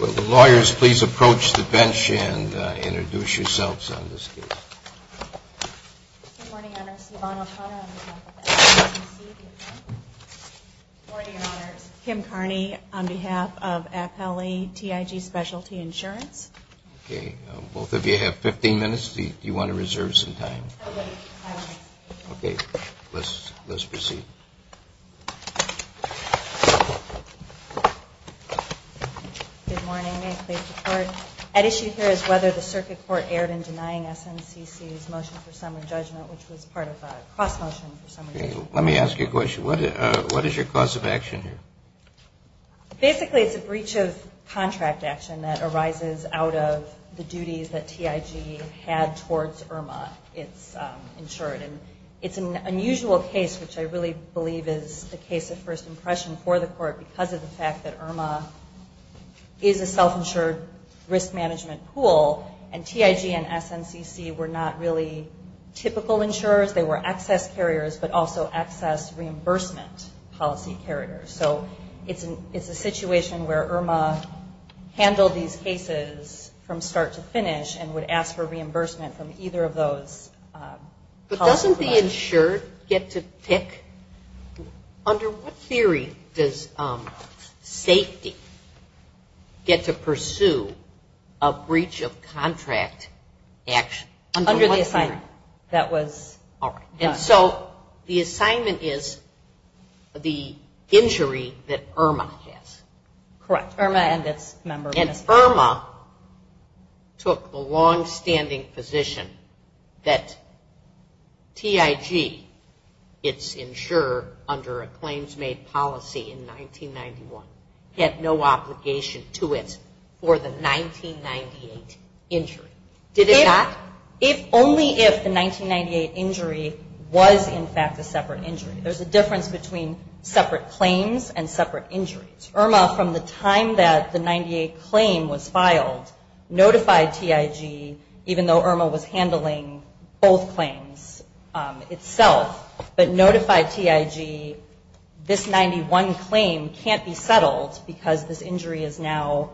Will the lawyers please approach the bench and introduce yourselves on this case. Good morning, Your Honors. Yvonne O'Connor on behalf of FLE TIG Specialty Insurance. Good morning, Your Honors. Kim Carney on behalf of FLE TIG Specialty Insurance. Okay. Both of you have 15 minutes. Do you want to reserve some time? Okay. Let's proceed. Good morning. May it please the Court? At issue here is whether the Circuit Court erred in denying SNCC's motion for summary judgment, which was part of a cross-motion for summary judgment. Okay. Let me ask you a question. What is your cause of action here? Basically, it's a breach of contract action that arises out of the duties that TIG had towards IRMA. It's insured. And it's an unusual case, which I really believe is the case of first impression for the Court because of the fact that IRMA is a self-insured risk management pool. And TIG and SNCC were not really typical insurers. They were access carriers, but also access reimbursement policy carriers. So it's a situation where IRMA handled these cases from start to finish and would ask for reimbursement from either of those policy carriers. But doesn't the insured get to pick? Under what theory does safety get to pursue a breach of contract action? Under the assignment that was done. And so the assignment is the injury that IRMA has. Correct. IRMA and this member. And IRMA took the long-standing position that TIG, it's insurer under a claims-made policy in 1991, had no obligation to it for the 1998 injury. Did it not? If only if the 1998 injury was in fact a separate injury. There's a difference between separate claims and separate injuries. IRMA from the time that the 98 claim was filed notified TIG, even though IRMA was handling both claims itself, but notified TIG this 91 claim can't be settled because this injury is now,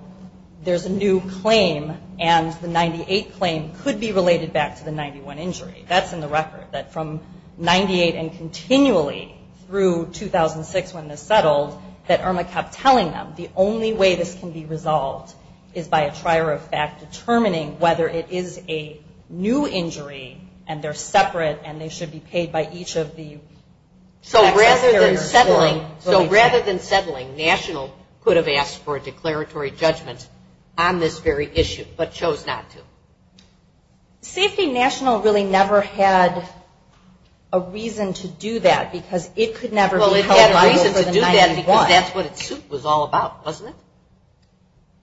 there's a new claim and the 98 claim could be related back to the 91 injury. That's in the record. That from 98 and continually through 2006 when this settled, that IRMA kept telling them the only way this can be resolved is by a trier of fact determining whether it is a new injury and they're separate and they should be paid by each of the access carriers. So rather than settling, National could have asked for a declaratory judgment on this very issue but chose not to. Safety National really never had a reason to do that because it could never be held liable for the 98. Why? Because that's what its suit was all about, wasn't it?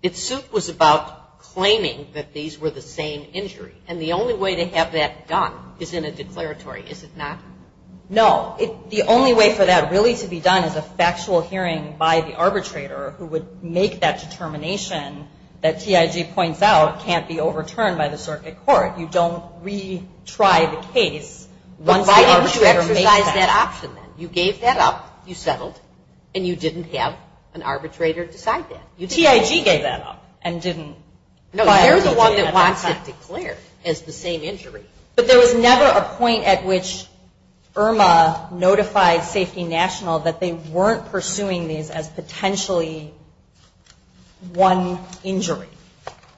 Its suit was about claiming that these were the same injury and the only way to have that done is in a declaratory, is it not? No. The only way for that really to be done is a factual hearing by the arbitrator who would make that determination that TIG points out can't be overturned by the circuit court. You don't retry the case once the arbitrator makes that. So what was the option then? You gave that up, you settled, and you didn't have an arbitrator decide that. TIG gave that up and didn't. No, they're the one that wants it declared as the same injury. But there was never a point at which IRMA notified Safety National that they weren't pursuing these as potentially one injury.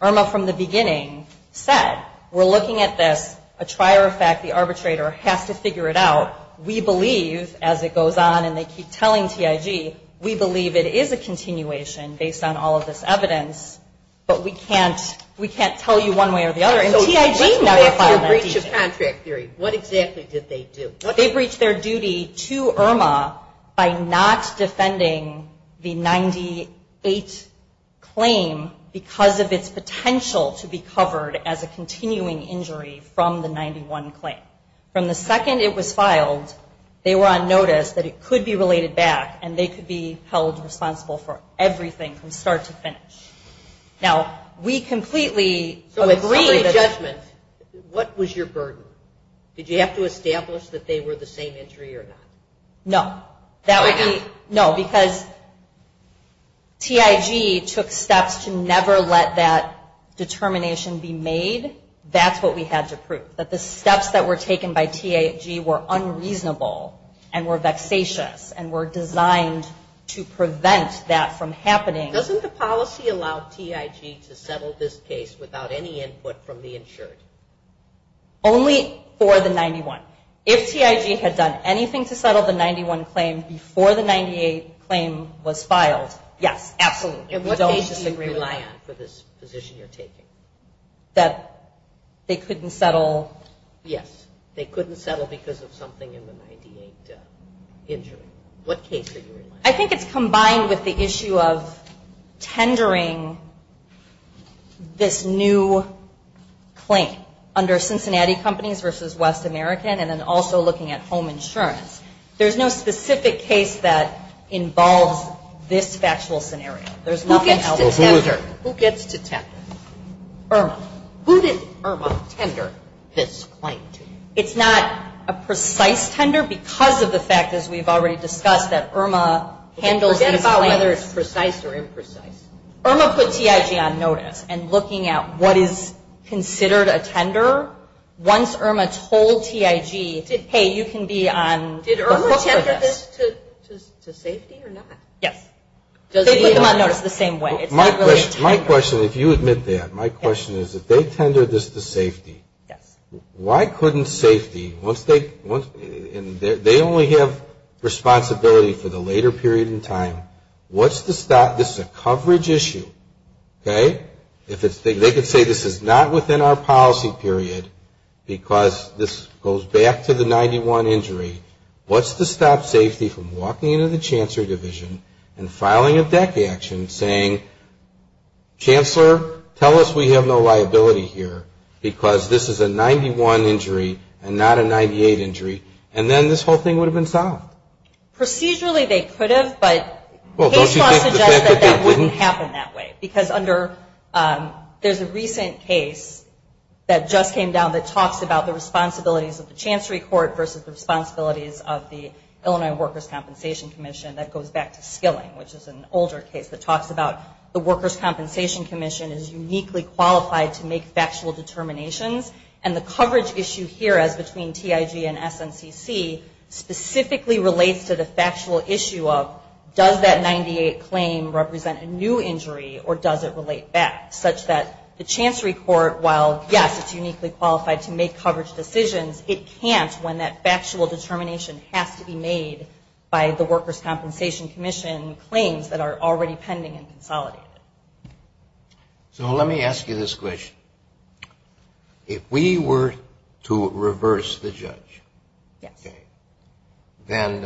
IRMA from the beginning said we're looking at this, a trier of fact the arbitrator has to figure it out. We believe, as it goes on and they keep telling TIG, we believe it is a continuation based on all of this evidence, but we can't tell you one way or the other. And TIG never filed that. So let's go back to the breach of contract theory. What exactly did they do? They breached their duty to IRMA by not defending the 98 claim because of its potential to be covered as a continuing injury from the 91 claim. From the second it was filed, they were on notice that it could be related back and they could be held responsible for everything from start to finish. Now, we completely agree that... So in summary judgment, what was your burden? Did you have to establish that they were the same injury or not? No. That would be... No, because TIG took steps to never let that determination be made. That's what we had to prove. That the steps that were taken by TIG were unreasonable and were vexatious and were designed to prevent that from happening. Doesn't the policy allow TIG to settle this case without any input from the insured? Only for the 91. If TIG had done anything to settle the 91 claim before the 98 claim was filed, yes, absolutely. That they couldn't settle... Yes. They couldn't settle because of something in the 98 injury. What case are you in line with? I think it's combined with the issue of tendering this new claim under Cincinnati Companies versus West American and then also looking at home insurance. There's no specific case that involves this factual scenario. Who gets to tender? Irma. Who did Irma tender this claim to? It's not a precise tender because of the fact, as we've already discussed, that Irma handles these claims. Forget about whether it's precise or imprecise. Irma put TIG on notice. And looking at what is considered a tender, once Irma told TIG, hey, you can be on the hook for this. Did Irma tender this to safety or not? Yes. They put them on notice the same way. It's not really a tender. My question, if you admit that, my question is, if they tendered this to safety, why couldn't safety, once they only have responsibility for the later period in time, what's the stop? This is a coverage issue, okay? They could say this is not within our policy period because this goes back to the 91 injury. What's to stop safety from walking into the chancery division and filing a DEC action saying, Chancellor, tell us we have no liability here because this is a 91 injury and not a 98 injury, and then this whole thing would have been solved? Procedurally, they could have, but case law suggests that that wouldn't happen that way because there's a recent case that just came down that talks about the responsibilities of the chancery court versus the responsibilities of the Illinois Workers' Compensation Commission that goes back to skilling, which is an older case that talks about the Workers' Compensation Commission is uniquely qualified to make factual determinations, and the coverage issue here as between TIG and SNCC specifically relates to the factual issue of, does that 98 claim represent a new injury or does it relate back, such that the chancery court, while yes, it's uniquely qualified to make coverage decisions, it can't when that factual determination has to be made by the Workers' Compensation Commission claims that are already pending and consolidated. So let me ask you this question. If we were to reverse the judge, then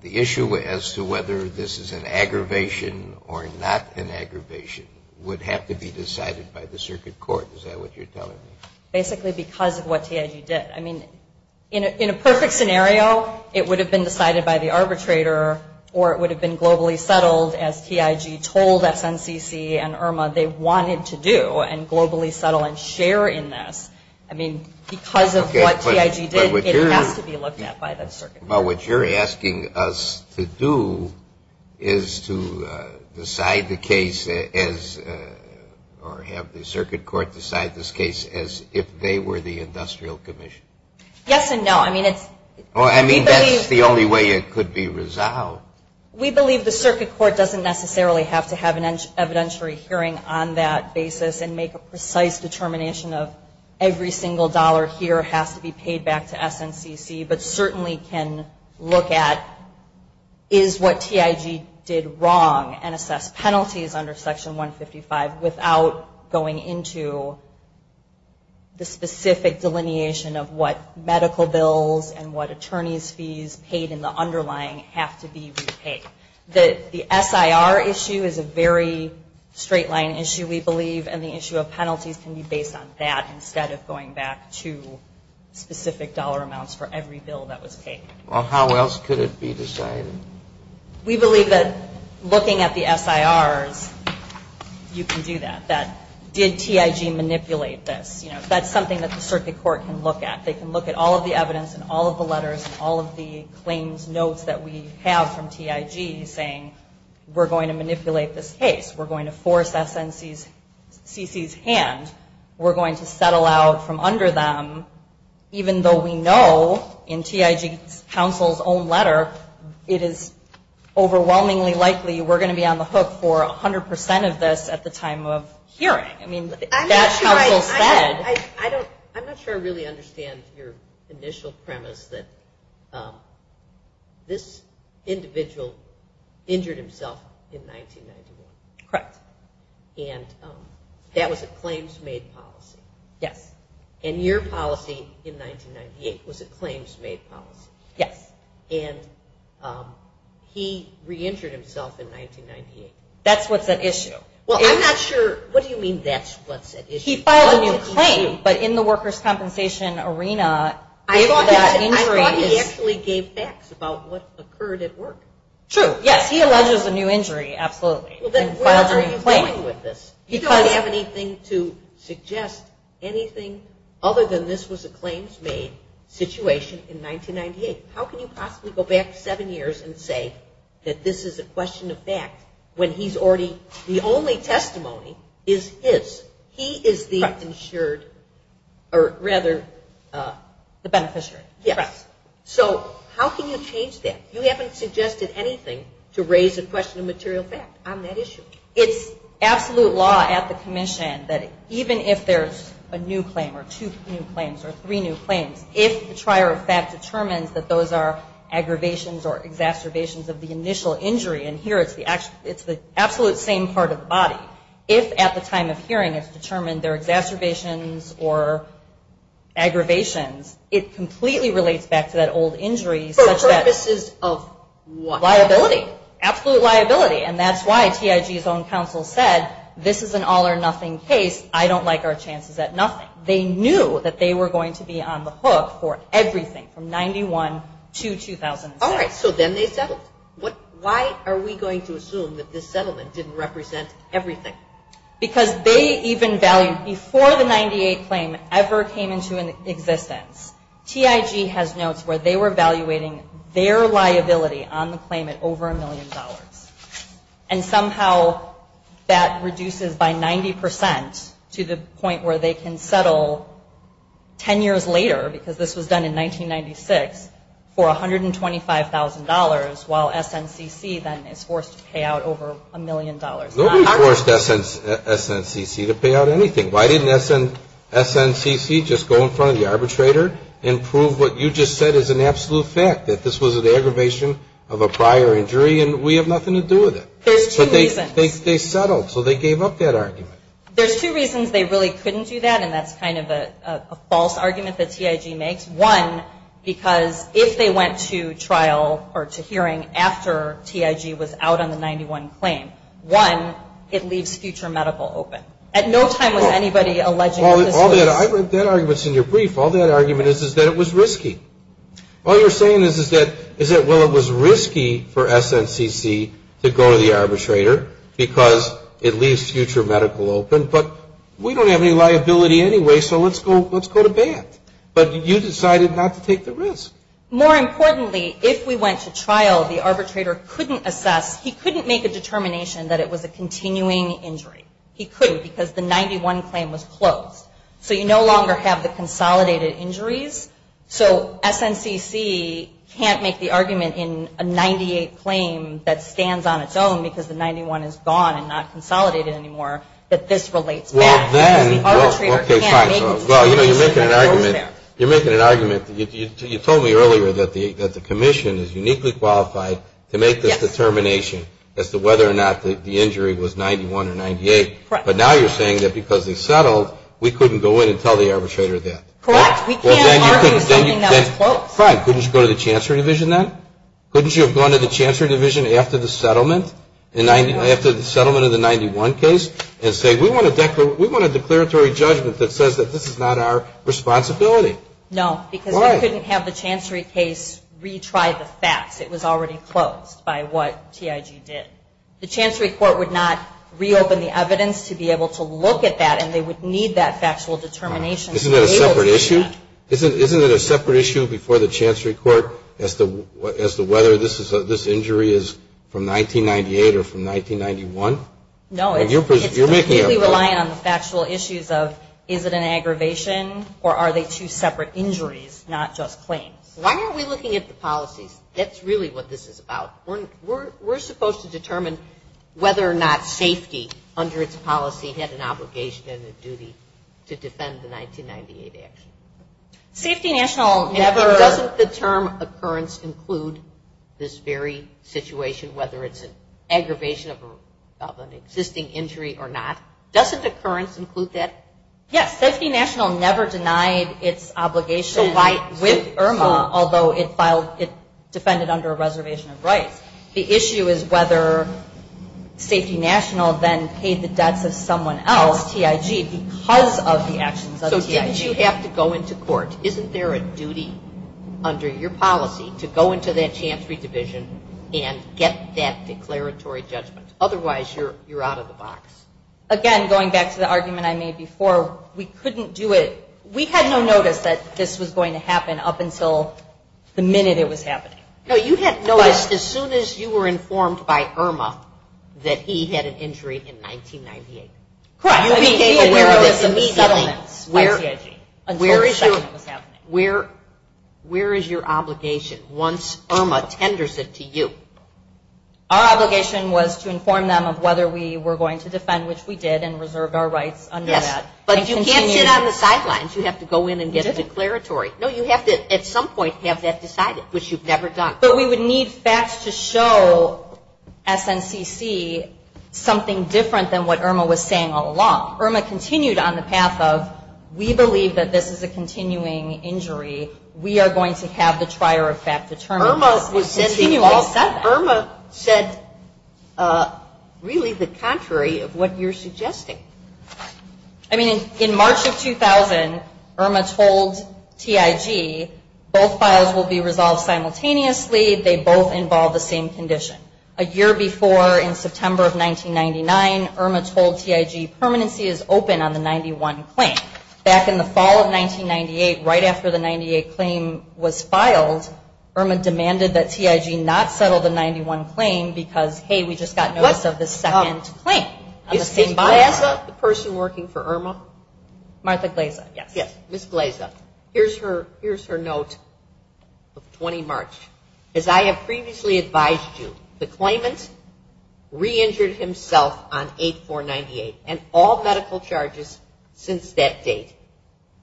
the issue as to whether this is an aggravation or not an aggravation would have to be decided by the circuit court, is that what you're telling me? Basically because of what TIG did. I mean, in a perfect scenario, it would have been decided by the arbitrator or it would have been globally settled as TIG told SNCC and IRMA they wanted to do and globally settle and share in this. I mean, because of what TIG did, it has to be looked at by the circuit court. But what you're asking us to do is to decide the case as, or have the circuit court decide this case as if they were the industrial commission. Yes and no. I mean, that's the only way it could be resolved. We believe the circuit court doesn't necessarily have to have an evidentiary hearing on that basis and make a precise determination of every single dollar here has to be paid back to SNCC, but certainly can look at is what TIG did wrong and assess penalties under section 155 without going into the specific delineation of what medical bills and what attorney's fees paid in the underlying have to be repaid. The SIR issue is a very straight line issue, we believe, and the issue of penalties can be based on that instead of going back to specific dollar amounts for every bill that was paid. Well, how else could it be decided? We believe that looking at the SIRs, you can do that, that did TIG manipulate this? That's something that the circuit court can look at. They can look at all of the evidence and all of the letters and all of the claims, notes that we have from TIG saying, we're going to manipulate this case. We're going to force SNCC's hand. We're going to settle out from under them, even though we know in TIG's counsel's own letter it is overwhelmingly likely we're going to be on the hook for 100% of this at the time of hearing. That counsel said... I'm not sure I really understand your initial premise that this individual injured himself in 1991. Correct. And that was a claims made policy. Yes. And your policy in 1998 was a claims made policy. Yes. And he re-injured himself in 1998. That's what's at issue. Well, I'm not sure... What do you mean that's what's at issue? He filed a new claim, but in the workers' compensation arena... I thought he actually gave facts about what occurred at work. True. Yes, he alleges a new injury, absolutely. Well, then what are you doing with this? You don't have anything to suggest anything other than this was a claims made situation in 1998. How can you possibly go back seven years and say that this is a question of fact when he's already... The only testimony is his. He is the insured... Correct. Or rather, the beneficiary. Yes. Correct. So how can you change that? You haven't suggested anything to raise a question of material fact on that issue. It's absolute law at the commission that even if there's a new claim or two new claims or three new claims, if the trier of fact determines that those are aggravations or exacerbations of the initial injury, and here it's the absolute same part of the body, if at the time of hearing it's determined they're exacerbations or aggravations, it completely relates back to that old injury... For purposes of what? Liability. Absolute liability. And that's why TIG's own counsel said this is an all-or-nothing case. I don't like our chances at nothing. They knew that they were going to be on the hook for everything from 91 to 2006. All right, so then they settled. How are we going to assume that this settlement didn't represent everything? Because they even valued, before the 98 claim ever came into existence, TIG has notes where they were evaluating their liability on the claim at over a million dollars. And somehow that reduces by 90 percent to the point where they can settle 10 years later, because this was done in 1996, for $125,000, while SNCC then is forced to pay out over a million dollars. Nobody forced SNCC to pay out anything. Why didn't SNCC just go in front of the arbitrator and prove what you just said is an absolute fact, that this was an aggravation of a prior injury and we have nothing to do with it? There's two reasons. They settled, so they gave up that argument. There's two reasons they really couldn't do that, and that's kind of a false argument that TIG makes. One, because if they went to trial or to hearing after TIG was out on the 91 claim, one, it leaves future medical open. At no time was anybody alleging that this was... I read that argument in your brief. All that argument is that it was risky. All you're saying is that, well, it was risky for SNCC to go to the arbitrator because it leaves future medical open, but we don't have any liability anyway, so let's go to bat. But you decided not to take the risk. More importantly, if we went to trial, the arbitrator couldn't assess, he couldn't make a determination that it was a continuing injury. He couldn't because the 91 claim was closed. So you no longer have the consolidated injuries, so SNCC can't make the argument in a 98 claim that stands on its own because the 91 is gone and not consolidated anymore that this relates back because the arbitrator can't make the determination that it's open. You're making an argument. You said to me earlier that the commission is uniquely qualified to make this determination as to whether or not the injury was 91 or 98, but now you're saying that because they settled, we couldn't go in and tell the arbitrator that. Correct. We can't argue something that was closed. Fine. Couldn't you go to the chancellery division then? Couldn't you have gone to the chancellery division after the settlement of the 91 case and say, we want a declaratory judgment that says that this is not our responsibility? The chancellery case retried the facts. It was already closed by what TIG did. The chancellery court would not reopen the evidence to be able to look at that and they would need that factual determination to be able to do that. Isn't it a separate issue before the chancellery court as to whether this injury is from 1998 or from 1991? No, it's completely reliant on the factual issues of is it an aggravation or are they two separate injuries, why aren't we looking at the policies? That's really what this is about. We're supposed to determine whether or not safety under its policy had an obligation and a duty to defend the 1998 action. Safety National never... Doesn't the term occurrence include this very situation whether it's an aggravation of an existing injury or not? Doesn't occurrence include that? Yes. Safety National never denied its obligation with IRMA although it defended under a reservation of rights. The issue is whether Safety National then paid the debts of someone else, TIG, because of the actions of TIG. So didn't you have to go into court? Isn't there a duty under your policy to go into that chancellery division and get that declaratory judgment? Otherwise, you're out of the box. Again, going back to the argument I made before, we couldn't do it. We had no notice that this was going to happen up until the minute it was happening. No, you had noticed as soon as you were informed by IRMA that he had an injury in 1998. Correct. You became aware of this immediately by TIG until the second was happening. Where is your obligation once IRMA tenders it to you? Our obligation was to inform them of whether we were going to defend, which we did, and reserved our rights under that. Yes, but you can't sit on the sidelines. You have to go in and get the declaratory. No, you have to, at some point, have that decided, which you've never done. But we would need facts to show SNCC something different than what IRMA was saying all along. IRMA continued on the path of we believe that this is a continuing injury. We are going to have the trier of fact determined. IRMA said really the contrary to what you're suggesting. I mean, in March of 2000, IRMA told TIG both files will be resolved simultaneously. They both involve the same condition. A year before, in September of 1999, IRMA told TIG permanency is open on the 91 claim. Back in the fall of 1998, right after the 98 claim was filed, IRMA demanded that TIG not settle the 91 claim because, hey, we just got notice of the second claim. Is Ms. Glaza the person working for IRMA? Martha Glaza. Yes. Ms. Glaza, here's her note of 20 March. As I have previously advised you, the claimant re-injured himself on 8-4-98 and all medical charges since that date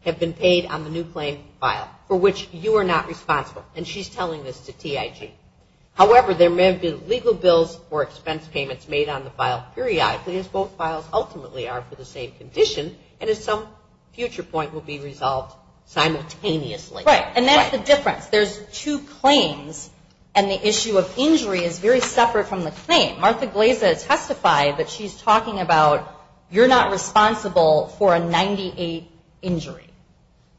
have been paid on the new claim file for which you are not responsible. And she's telling this to TIG. However, there may have been legal bills or expense payments made on the file periodically as both files ultimately are for the same condition and at some future point will be resolved simultaneously. Right. And that's the difference. There's two claims and the issue of injury is very separate from the claim. Martha Glaza testified that she's talking about you're not responsible for a 98 injury.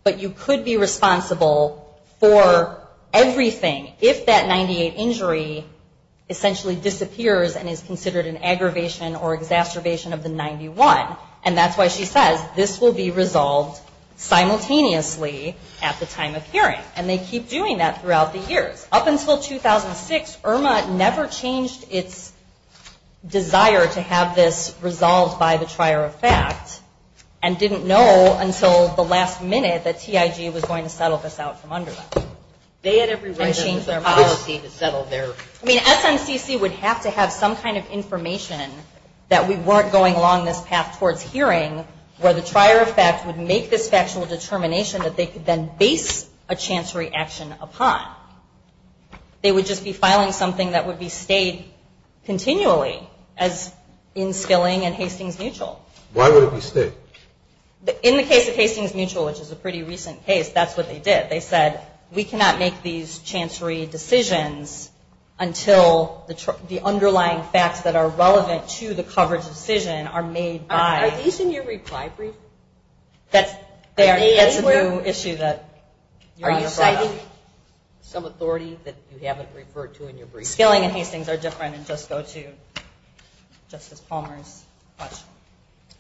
But you could be responsible for everything if that 98 injury essentially disappears and is considered an aggravation or exacerbation of the 91. And that's why she says this will be resolved simultaneously at the time of hearing. And they keep doing that throughout the years. Up until 2006, IRMA never changed its desire to have this resolved by the trier of fact and didn't know until the last minute that TIG was going to settle this out from under them. They had every right to change their policy to settle their... I mean SNCC would have to have some kind of information that we weren't going along this path towards hearing where the trier of fact would make this factual determination that they could then base a chancery action upon. They would just be filing something that would be stayed continually as in Skilling and Hastings Mutual. Why would it be stayed? In the case of Hastings Mutual, which is a pretty recent case, that's what they did. They said we cannot make these chancery decisions until the underlying facts that are relevant to the coverage decision are made by... Are these in your reply brief? That's a new issue that you brought up. Are you citing some authority that you haven't referred to in your brief? Skilling and Hastings are different and just go to Justice Palmer's question.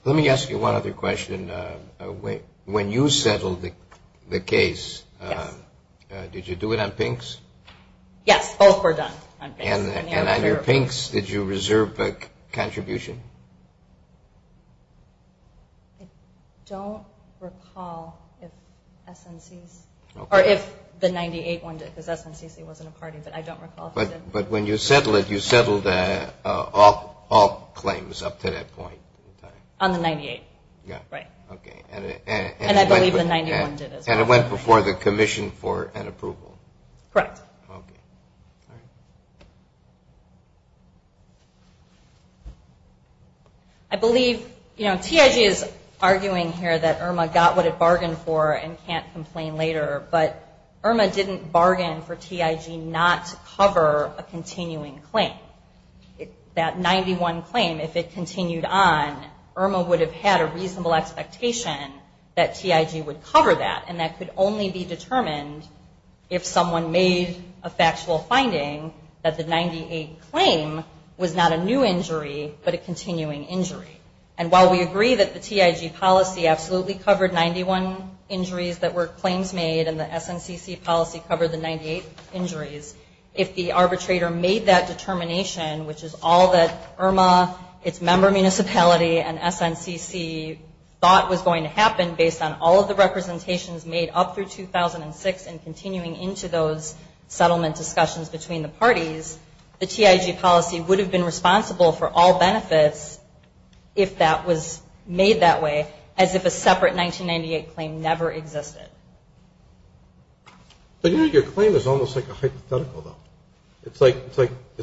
Let me ask you one other question. When you settled the case, did you do it on pinks? Yes. Both were done on pinks. And on your pinks, did you reserve a contribution? I don't recall if SNC's or if the 98 one did because SNCC wasn't a party but I don't recall. But when you settled it, you settled all claims up to that point. On the 98? Yeah. Right. Okay. And I believe the 91 did as well. And it went before the commission for an approval? Correct. Okay. All right. I believe TIG is arguing here that IRMA got what it bargained for and can't complain later but IRMA didn't bargain for TIG not to cover a continuing claim. That 91 claim, if it continued on, IRMA would have had a reasonable expectation that TIG would cover that and that could only be determined if someone made a factual finding that the 98 claim was not a new injury but a continuing injury. And while we agree that the TIG policy absolutely covered 91 injuries that were claims made and the SNCC policy covered the 98 injuries, if the arbitrator made that determination, which is all that IRMA, its member municipality and SNCC thought was going to happen based on all of the representations made up through 2006 and continuing into those settlement discussions between the parties, the TIG policy would have been responsible for all benefits if that was made that way as if a separate 1998 claim never existed. But your claim is almost like a hypothetical though. It's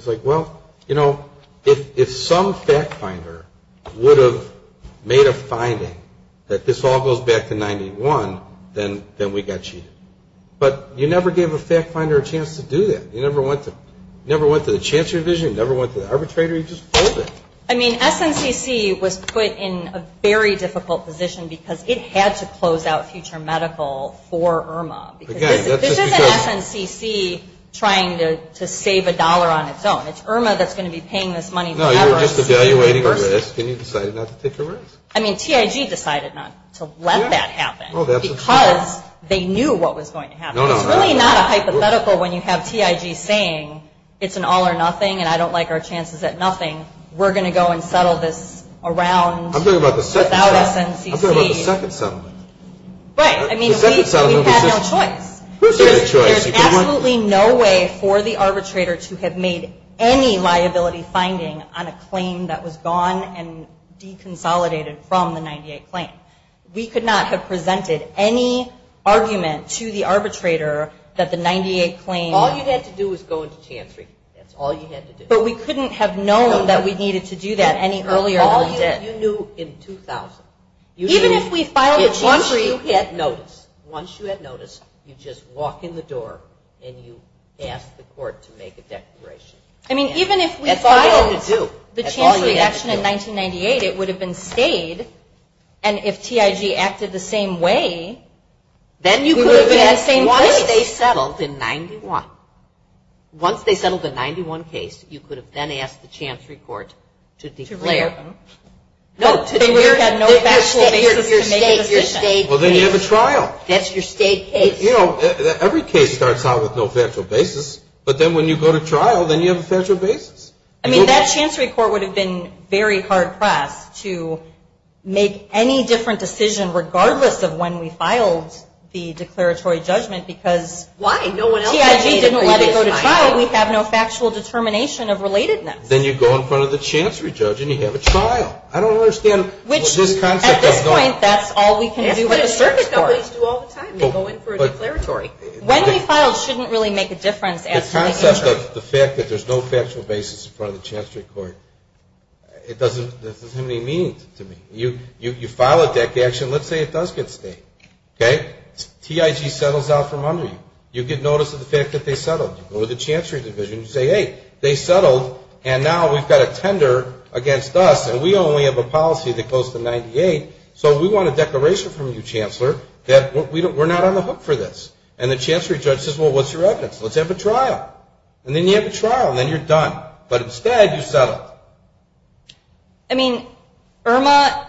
like, well, you know, if some fact finder would have made a finding that this all goes back to 91, then we got cheated. But you never gave a fact finder a chance to do that. You never went to the chancellor's division. You never went to the arbitrator. You just pulled it. I mean, SNCC was put in a very difficult position because it had to close out future medical for IRMA. This isn't SNCC trying to save a dollar on its own. It's IRMA that's going to be paying this money to Everest University. No, you're just evaluating a risk and you decided not to take a risk. I mean, TIG decided not to let that happen because they knew what was going to happen. It's really not a hypothetical when you have TIG saying it's an all or nothing and I don't like our chances at nothing. We're going to go and settle this around without SNCC. I'm talking about the second settlement. Right. I mean, we had no choice. There's absolutely no way for the arbitrator to have made any liability finding on a claim that was gone and deconsolidated from the 98 claim. We could not have presented any argument to the arbitrator that the 98 claim All you had to do was go into Chan Street. That's all you had to do. But we couldn't have known that we needed to do that any earlier than we did. All you knew in 2000. Even if we hadn't noticed you just walk in the door and you ask the court to make a declaration. I mean, even if we filed the Chan Street action in 1998 it would have been stayed and if TIG acted the same way we would have been in the same place. Once they settled in 91 once they settled the 91 case you could have then asked the Chan Street court to declare. To re-open. No, to declare that no factual basis to make a decision. Well, then you have a trial. That's your state case. You know, every case starts out with no factual basis but then when you go to trial then you have a factual basis. I mean, that Chan Street court would have been very hard-pressed to make any different decision regardless of when we filed the declaratory judgment because TIG didn't let us go to trial when you go to trial we have no factual determination of relatedness. Then you go in front of the Chan Street judge and you have a trial. I don't understand what this concept does not. At this point, that's all we can do with a search court. That's what the circuit companies do all the time. They go in for a declaratory. When we file it shouldn't really make a difference. The fact that there's no factual basis in front of the Chan Street court, it doesn't have any meaning to me. You file a dec action, let's say it does get state. TIG settles out from under you. You get notice of the fact that they settled. You go to the Chan Street division and you say, hey, they settled and now we've got a tender against us and we only have a policy that goes to 98. So we want a declaration from you, Chancellor, that we're not on the hook for this. And the Chan Street judge says, well, what's your evidence? Let's have a trial. And then you have a trial and then you're done. But instead you settled. I mean, Irma,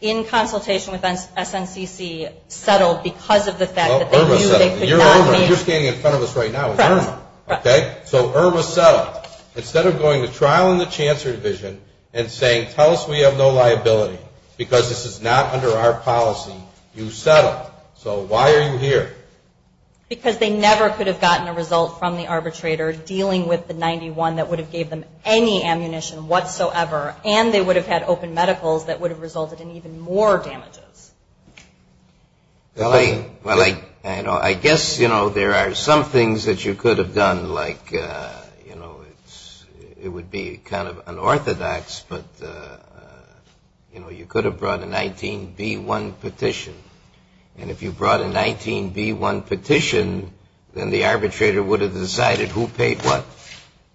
in consultation with SNCC, settled because of the fact that they knew they could not be. You're Irma. You're standing in front of us right now. You're Irma. So Irma settled. Instead of going to trial in the Chancellor Division and saying, tell us we have no liability because this is not under our policy, you settled. So why are you here? Because they never could have gotten a result from the arbitrator dealing with the 91 that would have given them any ammunition whatsoever and then they would have had open medicals that would have resulted in even more damages. Well, I guess, you know, there are some things that you could have done like, you know, it would be kind of unorthodox, but, you know, you could have brought a 19B1 petition. And if you brought a 19B1 petition, then the arbitrator would have decided who paid what.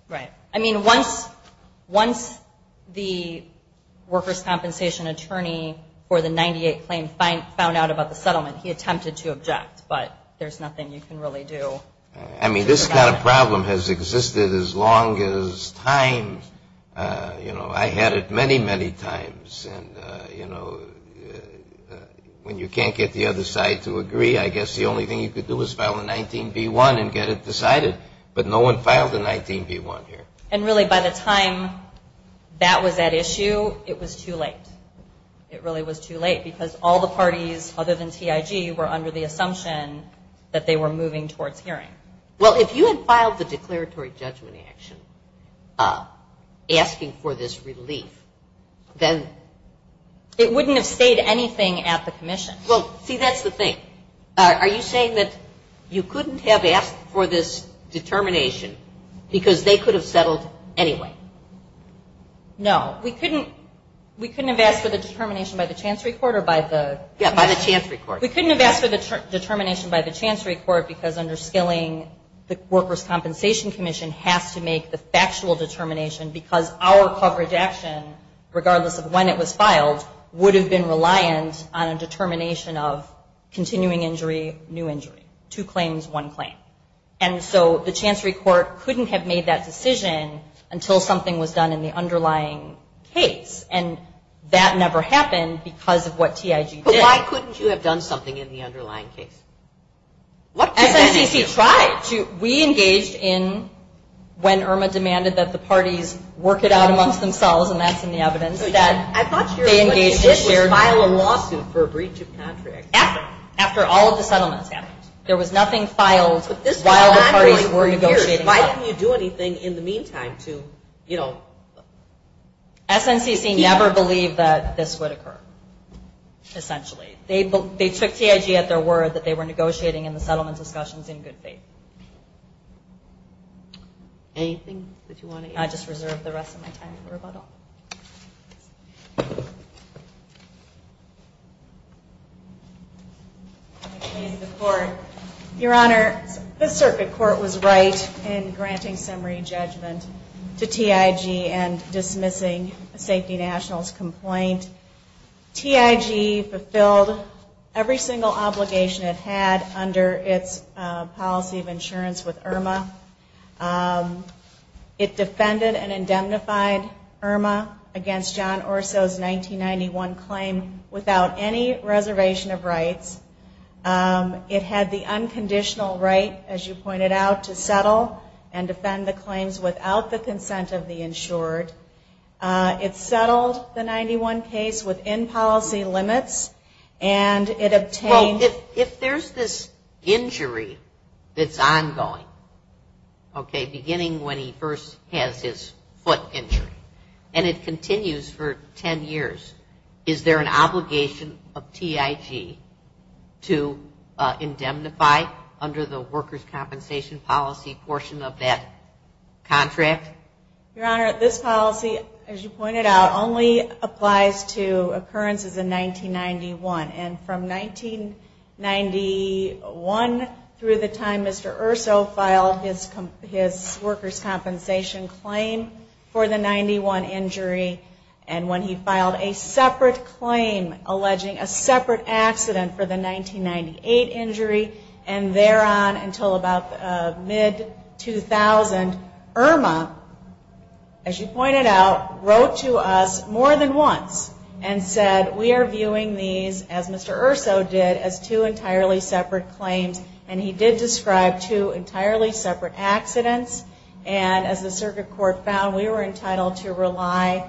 Right. I mean, once the workers' compensation attorney for the 98 claim found out about the settlement, he attempted to object, but there's nothing you can really do. I mean, this kind of problem has existed as long as time. You know, I had it many, many times, and you know, when you can't get the other side to agree, I guess the only thing you could do is file a 19B1 and get it decided. But no one filed a 19B1 here. And really, by the time that was at issue, it was too late. It really was too late because all the parties other than TIG were under the assumption that they were moving towards hearing. Well, if you had filed the declaratory judgment action asking for this relief, then... It wouldn't have stayed anything at the commission. Well, see, that's the thing. Are you saying that you couldn't have asked for this determination because they could have settled anyway? No. We couldn't have asked for the determination by the Chancery Court because under skilling, the Workers Compensation Commission has to make the factual determination because our coverage action, regardless of when it was filed, would have been reliant on a determination of continuing injury, new injury. Two claims, one claim. And so, the Chancery Court couldn't have made that decision until something was done in the underlying case. And that never happened because of what TIG did. But why couldn't you have done something in the underlying case? SNCC tried. We engaged in when Irma demanded that the parties work it out amongst themselves, and that's in the evidence, that they engaged in shared work. After all of the settlements happened, there was nothing filed while the parties were negotiating that. Why couldn't you do anything in the meantime to, you know... SNCC never believed that this would occur, essentially. They took TIG at their word that they were negotiating in the settlement discussions in good faith. Anything that you want to add? I just reserve the to say that the circuit court was right in granting summary judgment to TIG and dismissing a safety nationals complaint. TIG fulfilled every single obligation it had under its policy of insurance with Irma. It defended and indemnified Irma against John Orso's 1991 claim without any reservation of rights. It had the unconditional right, as you pointed out, to settle and defend the claims without the consent of the insured. It settled the 91 case within policy limits and it obtained... Well, if there's this injury that's ongoing, okay, beginning when he first has his foot injury and it continues for 10 years, is there an obligation of TIG to indemnify under the workers' compensation policy portion of that contract? Your Honor, this policy, as you pointed out, only applies to occurrences in 1991 and from 1991 through the time Mr. Orso filed his workers' compensation claim for the 91 injury and when he filed a separate claim alleging a separate accident for the 1998 injury and thereon until about mid-2000, Irma, as you pointed out, wrote to us more than once and said, we are viewing these, as Mr. Orso did, as two entirely separate claims and he did describe two entirely separate accidents and as the circuit court found, we know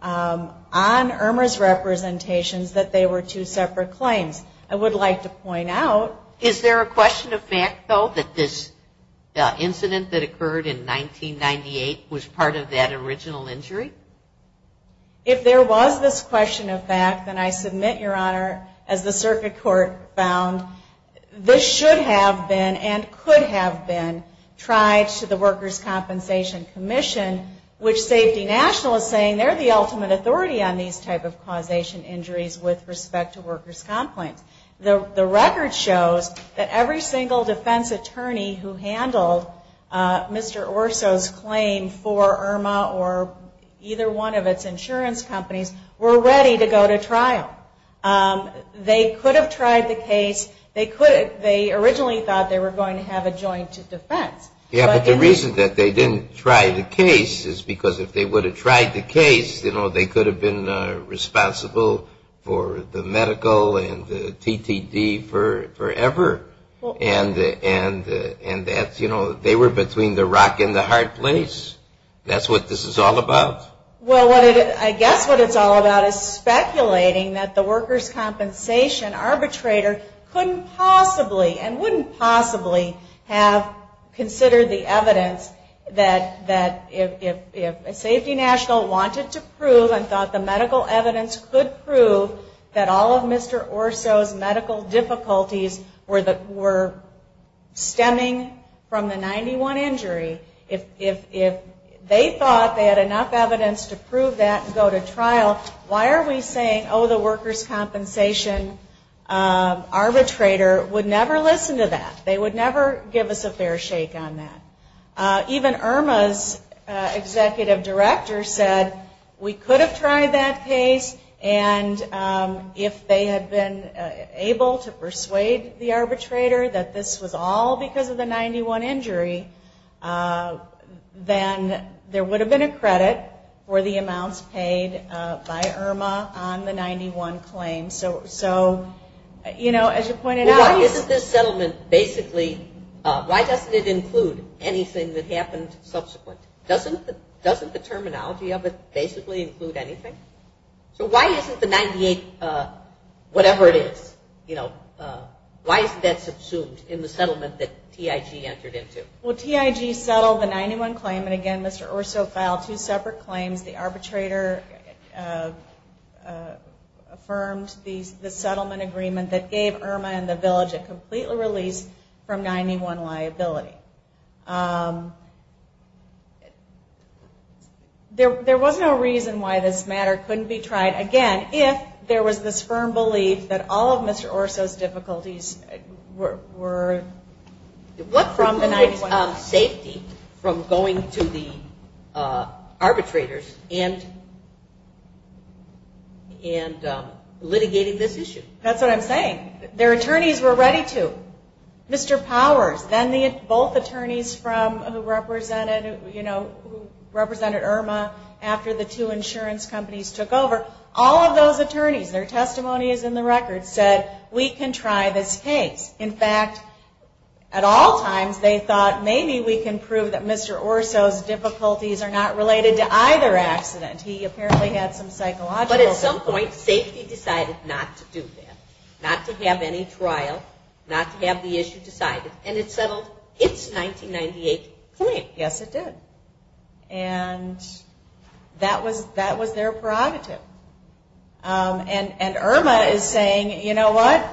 from Irma's representations that they were two separate claims. I would like to point out Is there a question of fact, though, that this incident that occurred in 1998 was part of that original injury? If there was this question of fact, then I submit, Your Honor, as the circuit court found, this should have been, and could have been, tried to the Workers' Compensation Commission, which Safety National is saying they're the ultimate authority on these type of causation injuries with respect to workers' complaints. The record shows that every single defense attorney who handled Mr. Orso's claim for Irma or either one of its insurance companies were ready to go to trial. They could have tried the case. They could have, they originally thought they were going to have a joint defense. Yeah, but the reason that they didn't try the case is because if they would have tried the case, you know, they could have been responsible for the medical and the TTD forever. And that's, you know, they were between the rock and the hard place. That's what this is all about. Well, I guess what it's all about is speculating that the workers' compensation arbitrator couldn't possibly and wouldn't possibly have considered the evidence that if Safety National wanted to prove and thought the medical evidence could prove that all of Mr. Orso's medical difficulties were stemming from the 91 injury, if they thought they had enough evidence to prove that and go to trial, why are we saying, oh, the workers' compensation arbitrator would never listen to that. They would never give us a fair shake on that. Even Irma's executive director said we could have tried that case and if they had been able to persuade the arbitrator that this was all because of the 91 injury, then there would have been a credit for the amounts paid by Irma on the 91 claim. So, you know, as you pointed out why isn't this settlement basically, why doesn't it include anything that happened subsequent? Doesn't the terminology of it basically include anything? So why isn't the 98, whatever it is, you know, why isn't that subsumed in the settlement that TIG entered into? Well, TIG settled the 91 claim and again Mr. Orso filed two separate claims. The arbitrator affirmed the settlement agreement that gave Irma and the village a complete release from 91 liability. There was no reason why this matter couldn't be tried again if there was this settlement agreement. And Mr. Orso's difficulties were from the 91. What was the safety from going to the arbitrators and litigating this issue? That's what I'm saying. Their attorneys were ready to. Mr. Powers, then both attorneys who represented Irma after the two insurance companies took over, all of those attorneys, their testimony is in the record, said we can try this case. In fact, at all times they thought maybe we can prove that Mr. Orso's difficulties are not related to either accident. He apparently had some psychological difficulties. But at some point safety decided not to do that, not to have any of that involved. And that was their prerogative. And Irma is saying, you know what,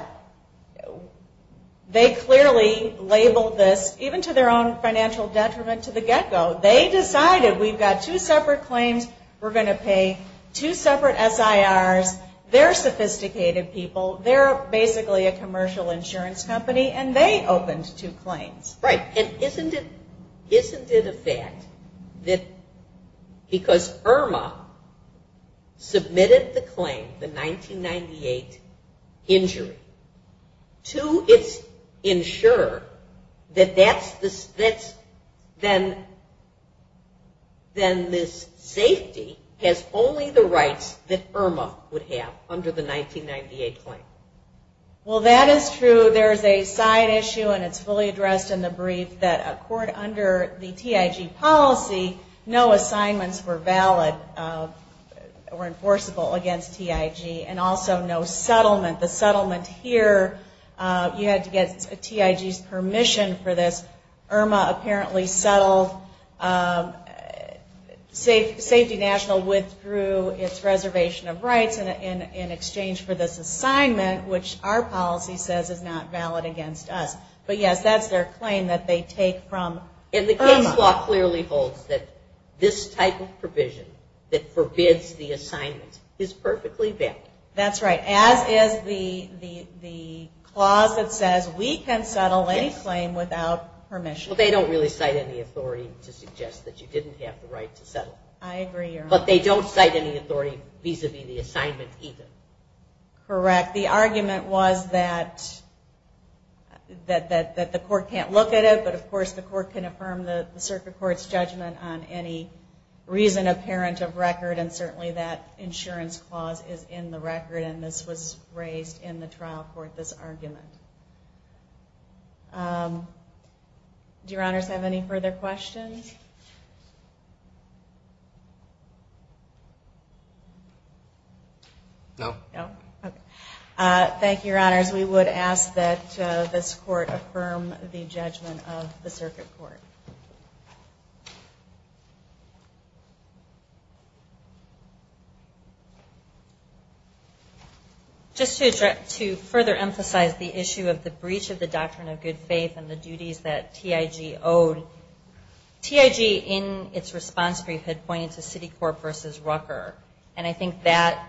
they clearly labeled this, even to their own financial detriment to the get-go, they decided we've got two separate claims we're going to pay, two separate SIRs, they're sophisticated people, they're basically a commercial insurance company, and they opened two claims. Right. And isn't it a fact that because Irma submitted the claim, the 1998 injury, to its insurer that that's then this safety has only the rights that Irma would Well, that is true. There's a side issue, and it's fully addressed in the brief. And Irma's claim is that the insurance company believed that under the TIG policy, no assignments were valid, were enforceable against TIG, and also no settlement. The settlement here, you had to get TIG's permission for this. Irma apparently settled, Safety National withdrew its reservation of rights in exchange for this assignment, which our policy says is not valid against us. But yes, that's their claim that they take from Irma. And the case law clearly holds that this type of provision that forbids the assignment is perfectly valid. That's right. As is the clause that says we can settle any claim without permission. Well, they don't really cite any authority to suggest that you didn't have the right to that. That the court can't look at it, but of course the court can affirm the circuit court's judgment on any reason apparent of record, and certainly that insurance clause is in the record, and this was raised in the trial court, this argument. Do your honors have any further questions? No. No? Okay. Thank you, your honors. We would ask that this court affirm the judgment of the circuit court. Just to further emphasize the issue of the breach of the doctrine of good faith and the duties that TIG owed, TIG in its response brief had pointed to city court versus Rucker, and I think that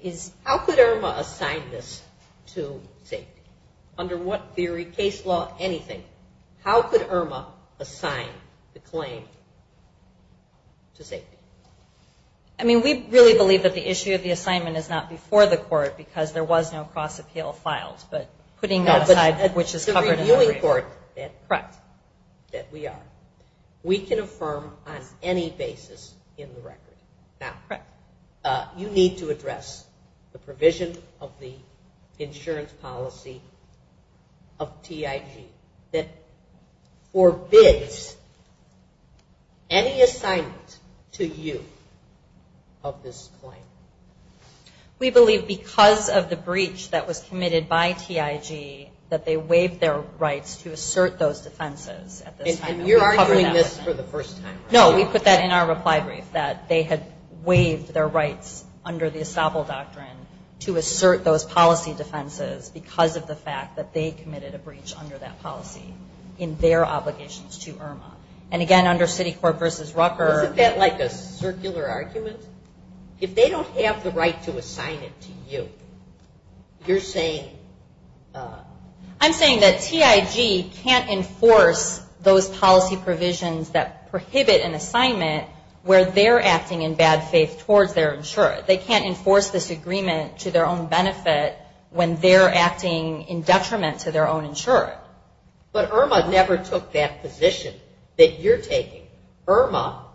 is... How could Irma assign this to the circuit court? Under what theory, case law, anything, how could Irma assign the claim to safety? I mean, we really believe that the issue of the assignment is not before the court because there was no cross-appeal filed, but putting that aside, which is covered in the record. Correct. We can affirm on any basis in the record. Now, you need to address the provision of the insurance policy of TIG that forbids any assignment to you of this claim. We believe because of the breach that was committed by TIG that they waived their rights to assert those defenses. And you're arguing this for the first time, right? No, we put that in our reply brief, that they had waived their rights under the estoppel doctrine to assert those policy defenses because of the fact that they committed a breach under that policy in their obligations to Irma. And again, under city court versus Rucker. Isn't that like a circular argument? If they have to prohibit an assignment where they're acting in bad faith towards their insurer. They can't enforce this agreement to their own benefit when they're acting in detriment to their own insurer. But Irma never took that position that you're taking. Irma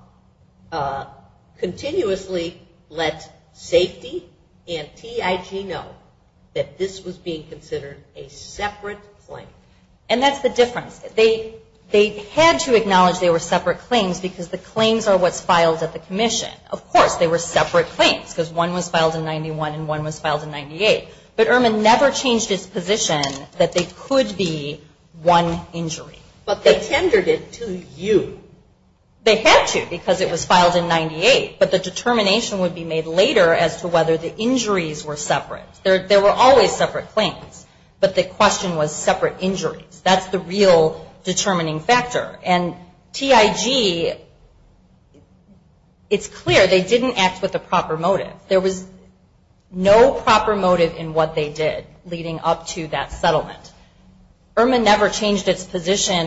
continuously let safety and TIG know that this was being considered a separate claim. And that's the difference. They had to acknowledge they were separate claims because the claims are what's filed at the commission. Of course, they were separate claims because one was filed in 91 and one was filed in 98. But Irma never changed its position that they could be one injury. But they didn't act with a proper motive. There was no proper motive in what they did leading up to that settlement. position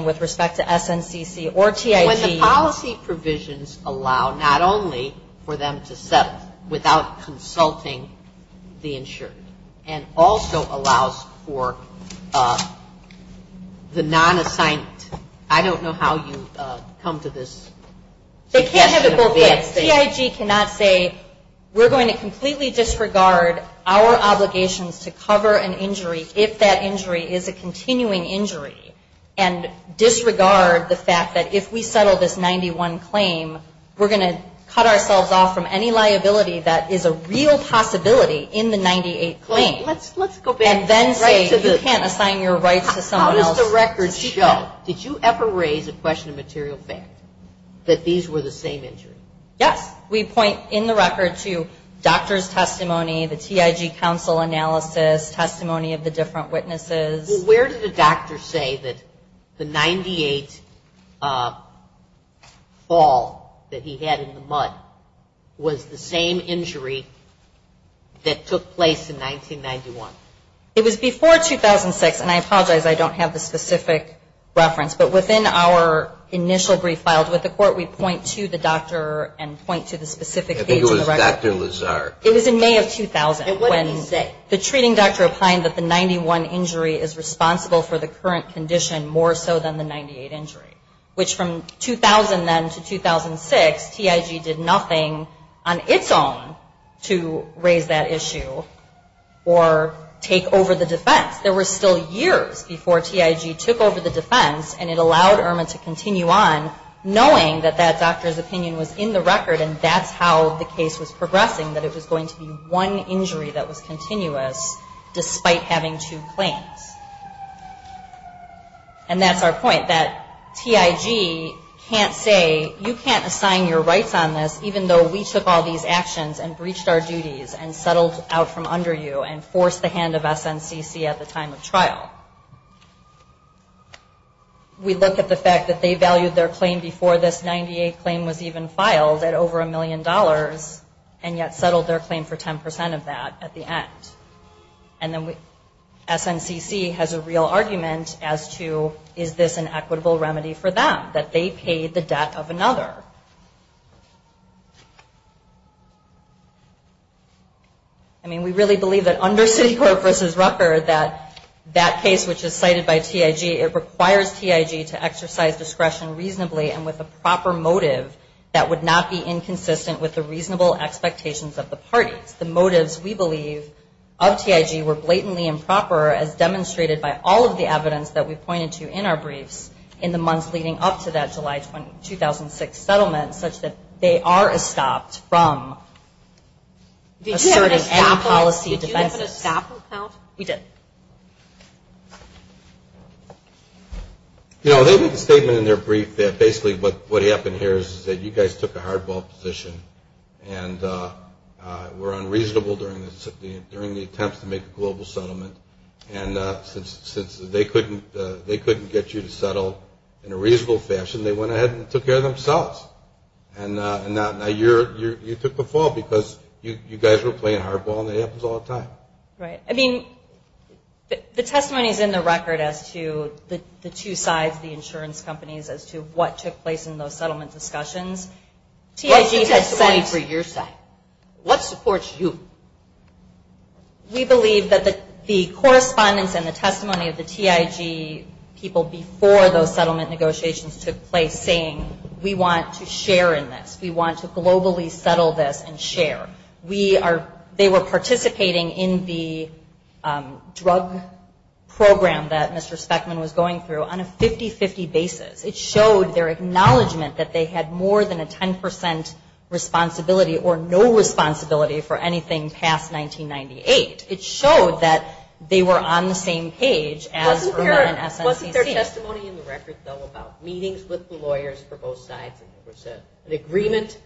with respect to SNCC or TIG. When the policy provisions allow the insurer to enforce a separate claim, the TIG does allow not only for them to settle without consulting the insurer and also allows for the non-assigned I don't know how you come to this question. TIG cannot say we're going to completely disregard our obligations to cover an injury if that is the case. We're going to cut ourselves off from any liability that is a real possibility in the 98th claim and then say you can't assign your rights to someone else. Did you ever raise a question of material fact that these were the same injuries? Yes. We point in the record to doctor's and point to specific page of the record. It was in May of 2000 when the treating doctor opined that the 91 injury is responsible for the current condition more so than the 98 injury. Which from 2000 then to 2006, TIG did nothing on its own to raise that issue or take over the defense. There were still years before TIG took over the defense and it allowed IRMA to continue on knowing that that doctor's opinion was in the record and that's how the case was progressing, that it was going to be one injury that was continuous and it was continuous and that it was going to be one injury that was continuous and that it was going to be one were injuries that deafened the deaf of another. I mean we really believe that under city court versus record it requires TIG to disclose and reasonably and with a proper motive that would not be inconsistent with the reasonable ex- eps. The motives we believe of TIG were blatantly improper as demonstrated by all of the evidence that we pointed to in our briefs in the months leading up to that July 2006 settlement such that they are estopped from asserting their policy of defense. We did. You know they made a statement in their brief that basically what happened here is that you guys took a hardball position and were unreasonable during the attempts to make a global settlement and since they couldn't get you to settle in a reasonable fashion, they went ahead and took care of themselves. And now you took the fall because you guys were playing hardball and that happens all the time. Right. I mean, the testimony is in the record as to the two sides, the insurance companies, as to what took place in those settlement discussions. What's the testimony for your side? What supports you? We believe that the correspondence and the testimony of the TIG people before those settlement negotiations took place saying we want to share in this, we want to globally settle this and share. They were participating in the settlement negotiations saying that they had more than a 10% responsibility or no responsibility for anything past 1998. It showed that they were on the same page as SNCC. Wasn't there testimony in the record though about meetings with the lawyers for both sides and an agreement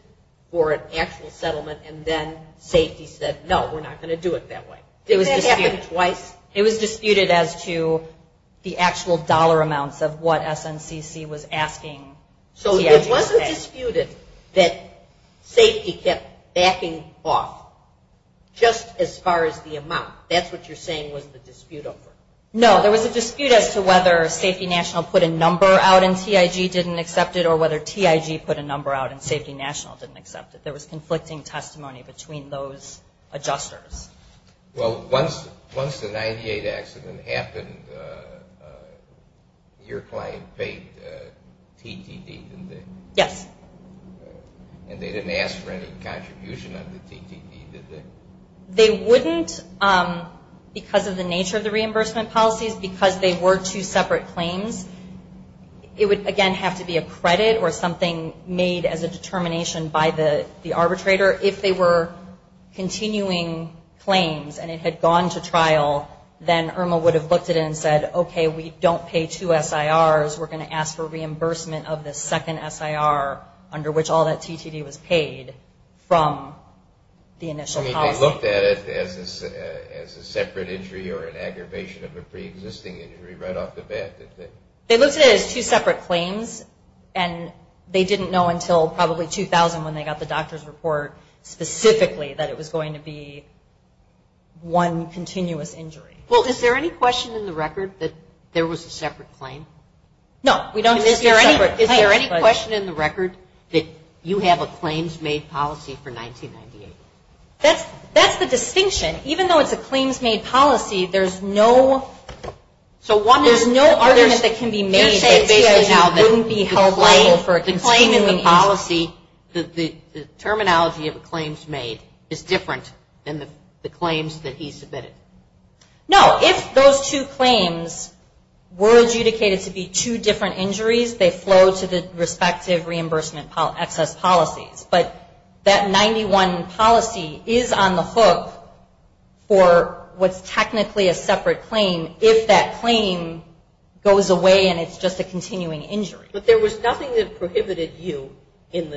for an actual settlement and then safety said no, we're not going to do it that way. Didn't that happen twice? It was disputed as to the actual dollar amounts of what SNCC was asking. So it wasn't disputed that safety kept backing off just as far as the amount. That's what you're saying was the dispute over. No, there was a separate testimony between those adjusters. Well, once the 98 accident happened, your client paid TTD, didn't they? Yes. And they didn't ask for any contribution on the TTD, did they? They wouldn't because of the nature of the reimbursement policies. Because they were two separate claims, it would again have to be a credit or something made as a determination by the arbitrator. If they were continuing claims and it had gone to trial, then Irma would have looked at it and said, okay, we don't pay two SIRs, we're going to ask for reimbursement of the second SIR under which all that TTD was paid from the initial policy. I mean, they looked at it as a separate injury or an aggravation of a pre-existing injury right off the bat, did they? They looked at it as two separate claims and they didn't know until probably 2000 when they got the doctor's report specifically that it was going to be one continuous injury. Well, is there any question in the record that there was a separate claim? No. Is there any question in the record that you have a claims made policy for 1998? That's the distinction. Even though it's a claims made policy, there's no argument that can be made that basically wouldn't be held liable for a continuous injury. The claim in the policy, the terminology of a claims made is different than the claims that he submitted? No. If those two claims were adjudicated to be two different injuries, they flow to the same claim. It's technically a separate claim if that claim goes away and it's just a continuing injury. But there was nothing that prohibited you in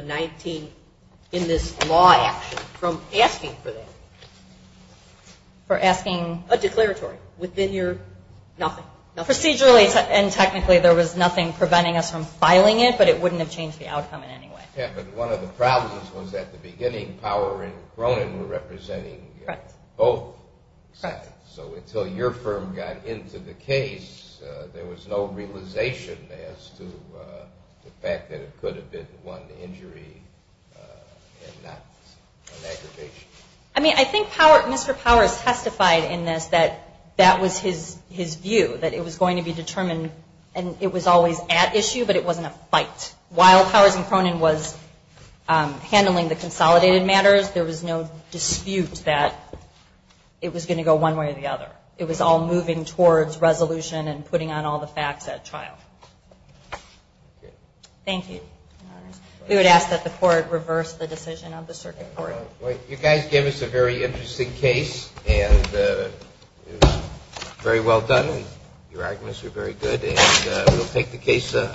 this law action from asking for that? For asking? A declaratory within your nothing. Procedurally and technically there was nothing preventing us from filing it, but it wouldn't have changed the outcome in any way. Yeah, but one of the problems was at the beginning, Power and Cronin were representing both sides. So until your firm got into the case, there was no realization as to the fact that it could have been one injury and not an aggravation. I mean, I think Mr. Power has said that there was no fight. While Powers and Cronin was handling the consolidated matters, there was no dispute that it was going to go one way or the other. It was all moving towards resolution and putting on all the facts at trial. Thank you. We would like to close the meeting at this time. Thank you.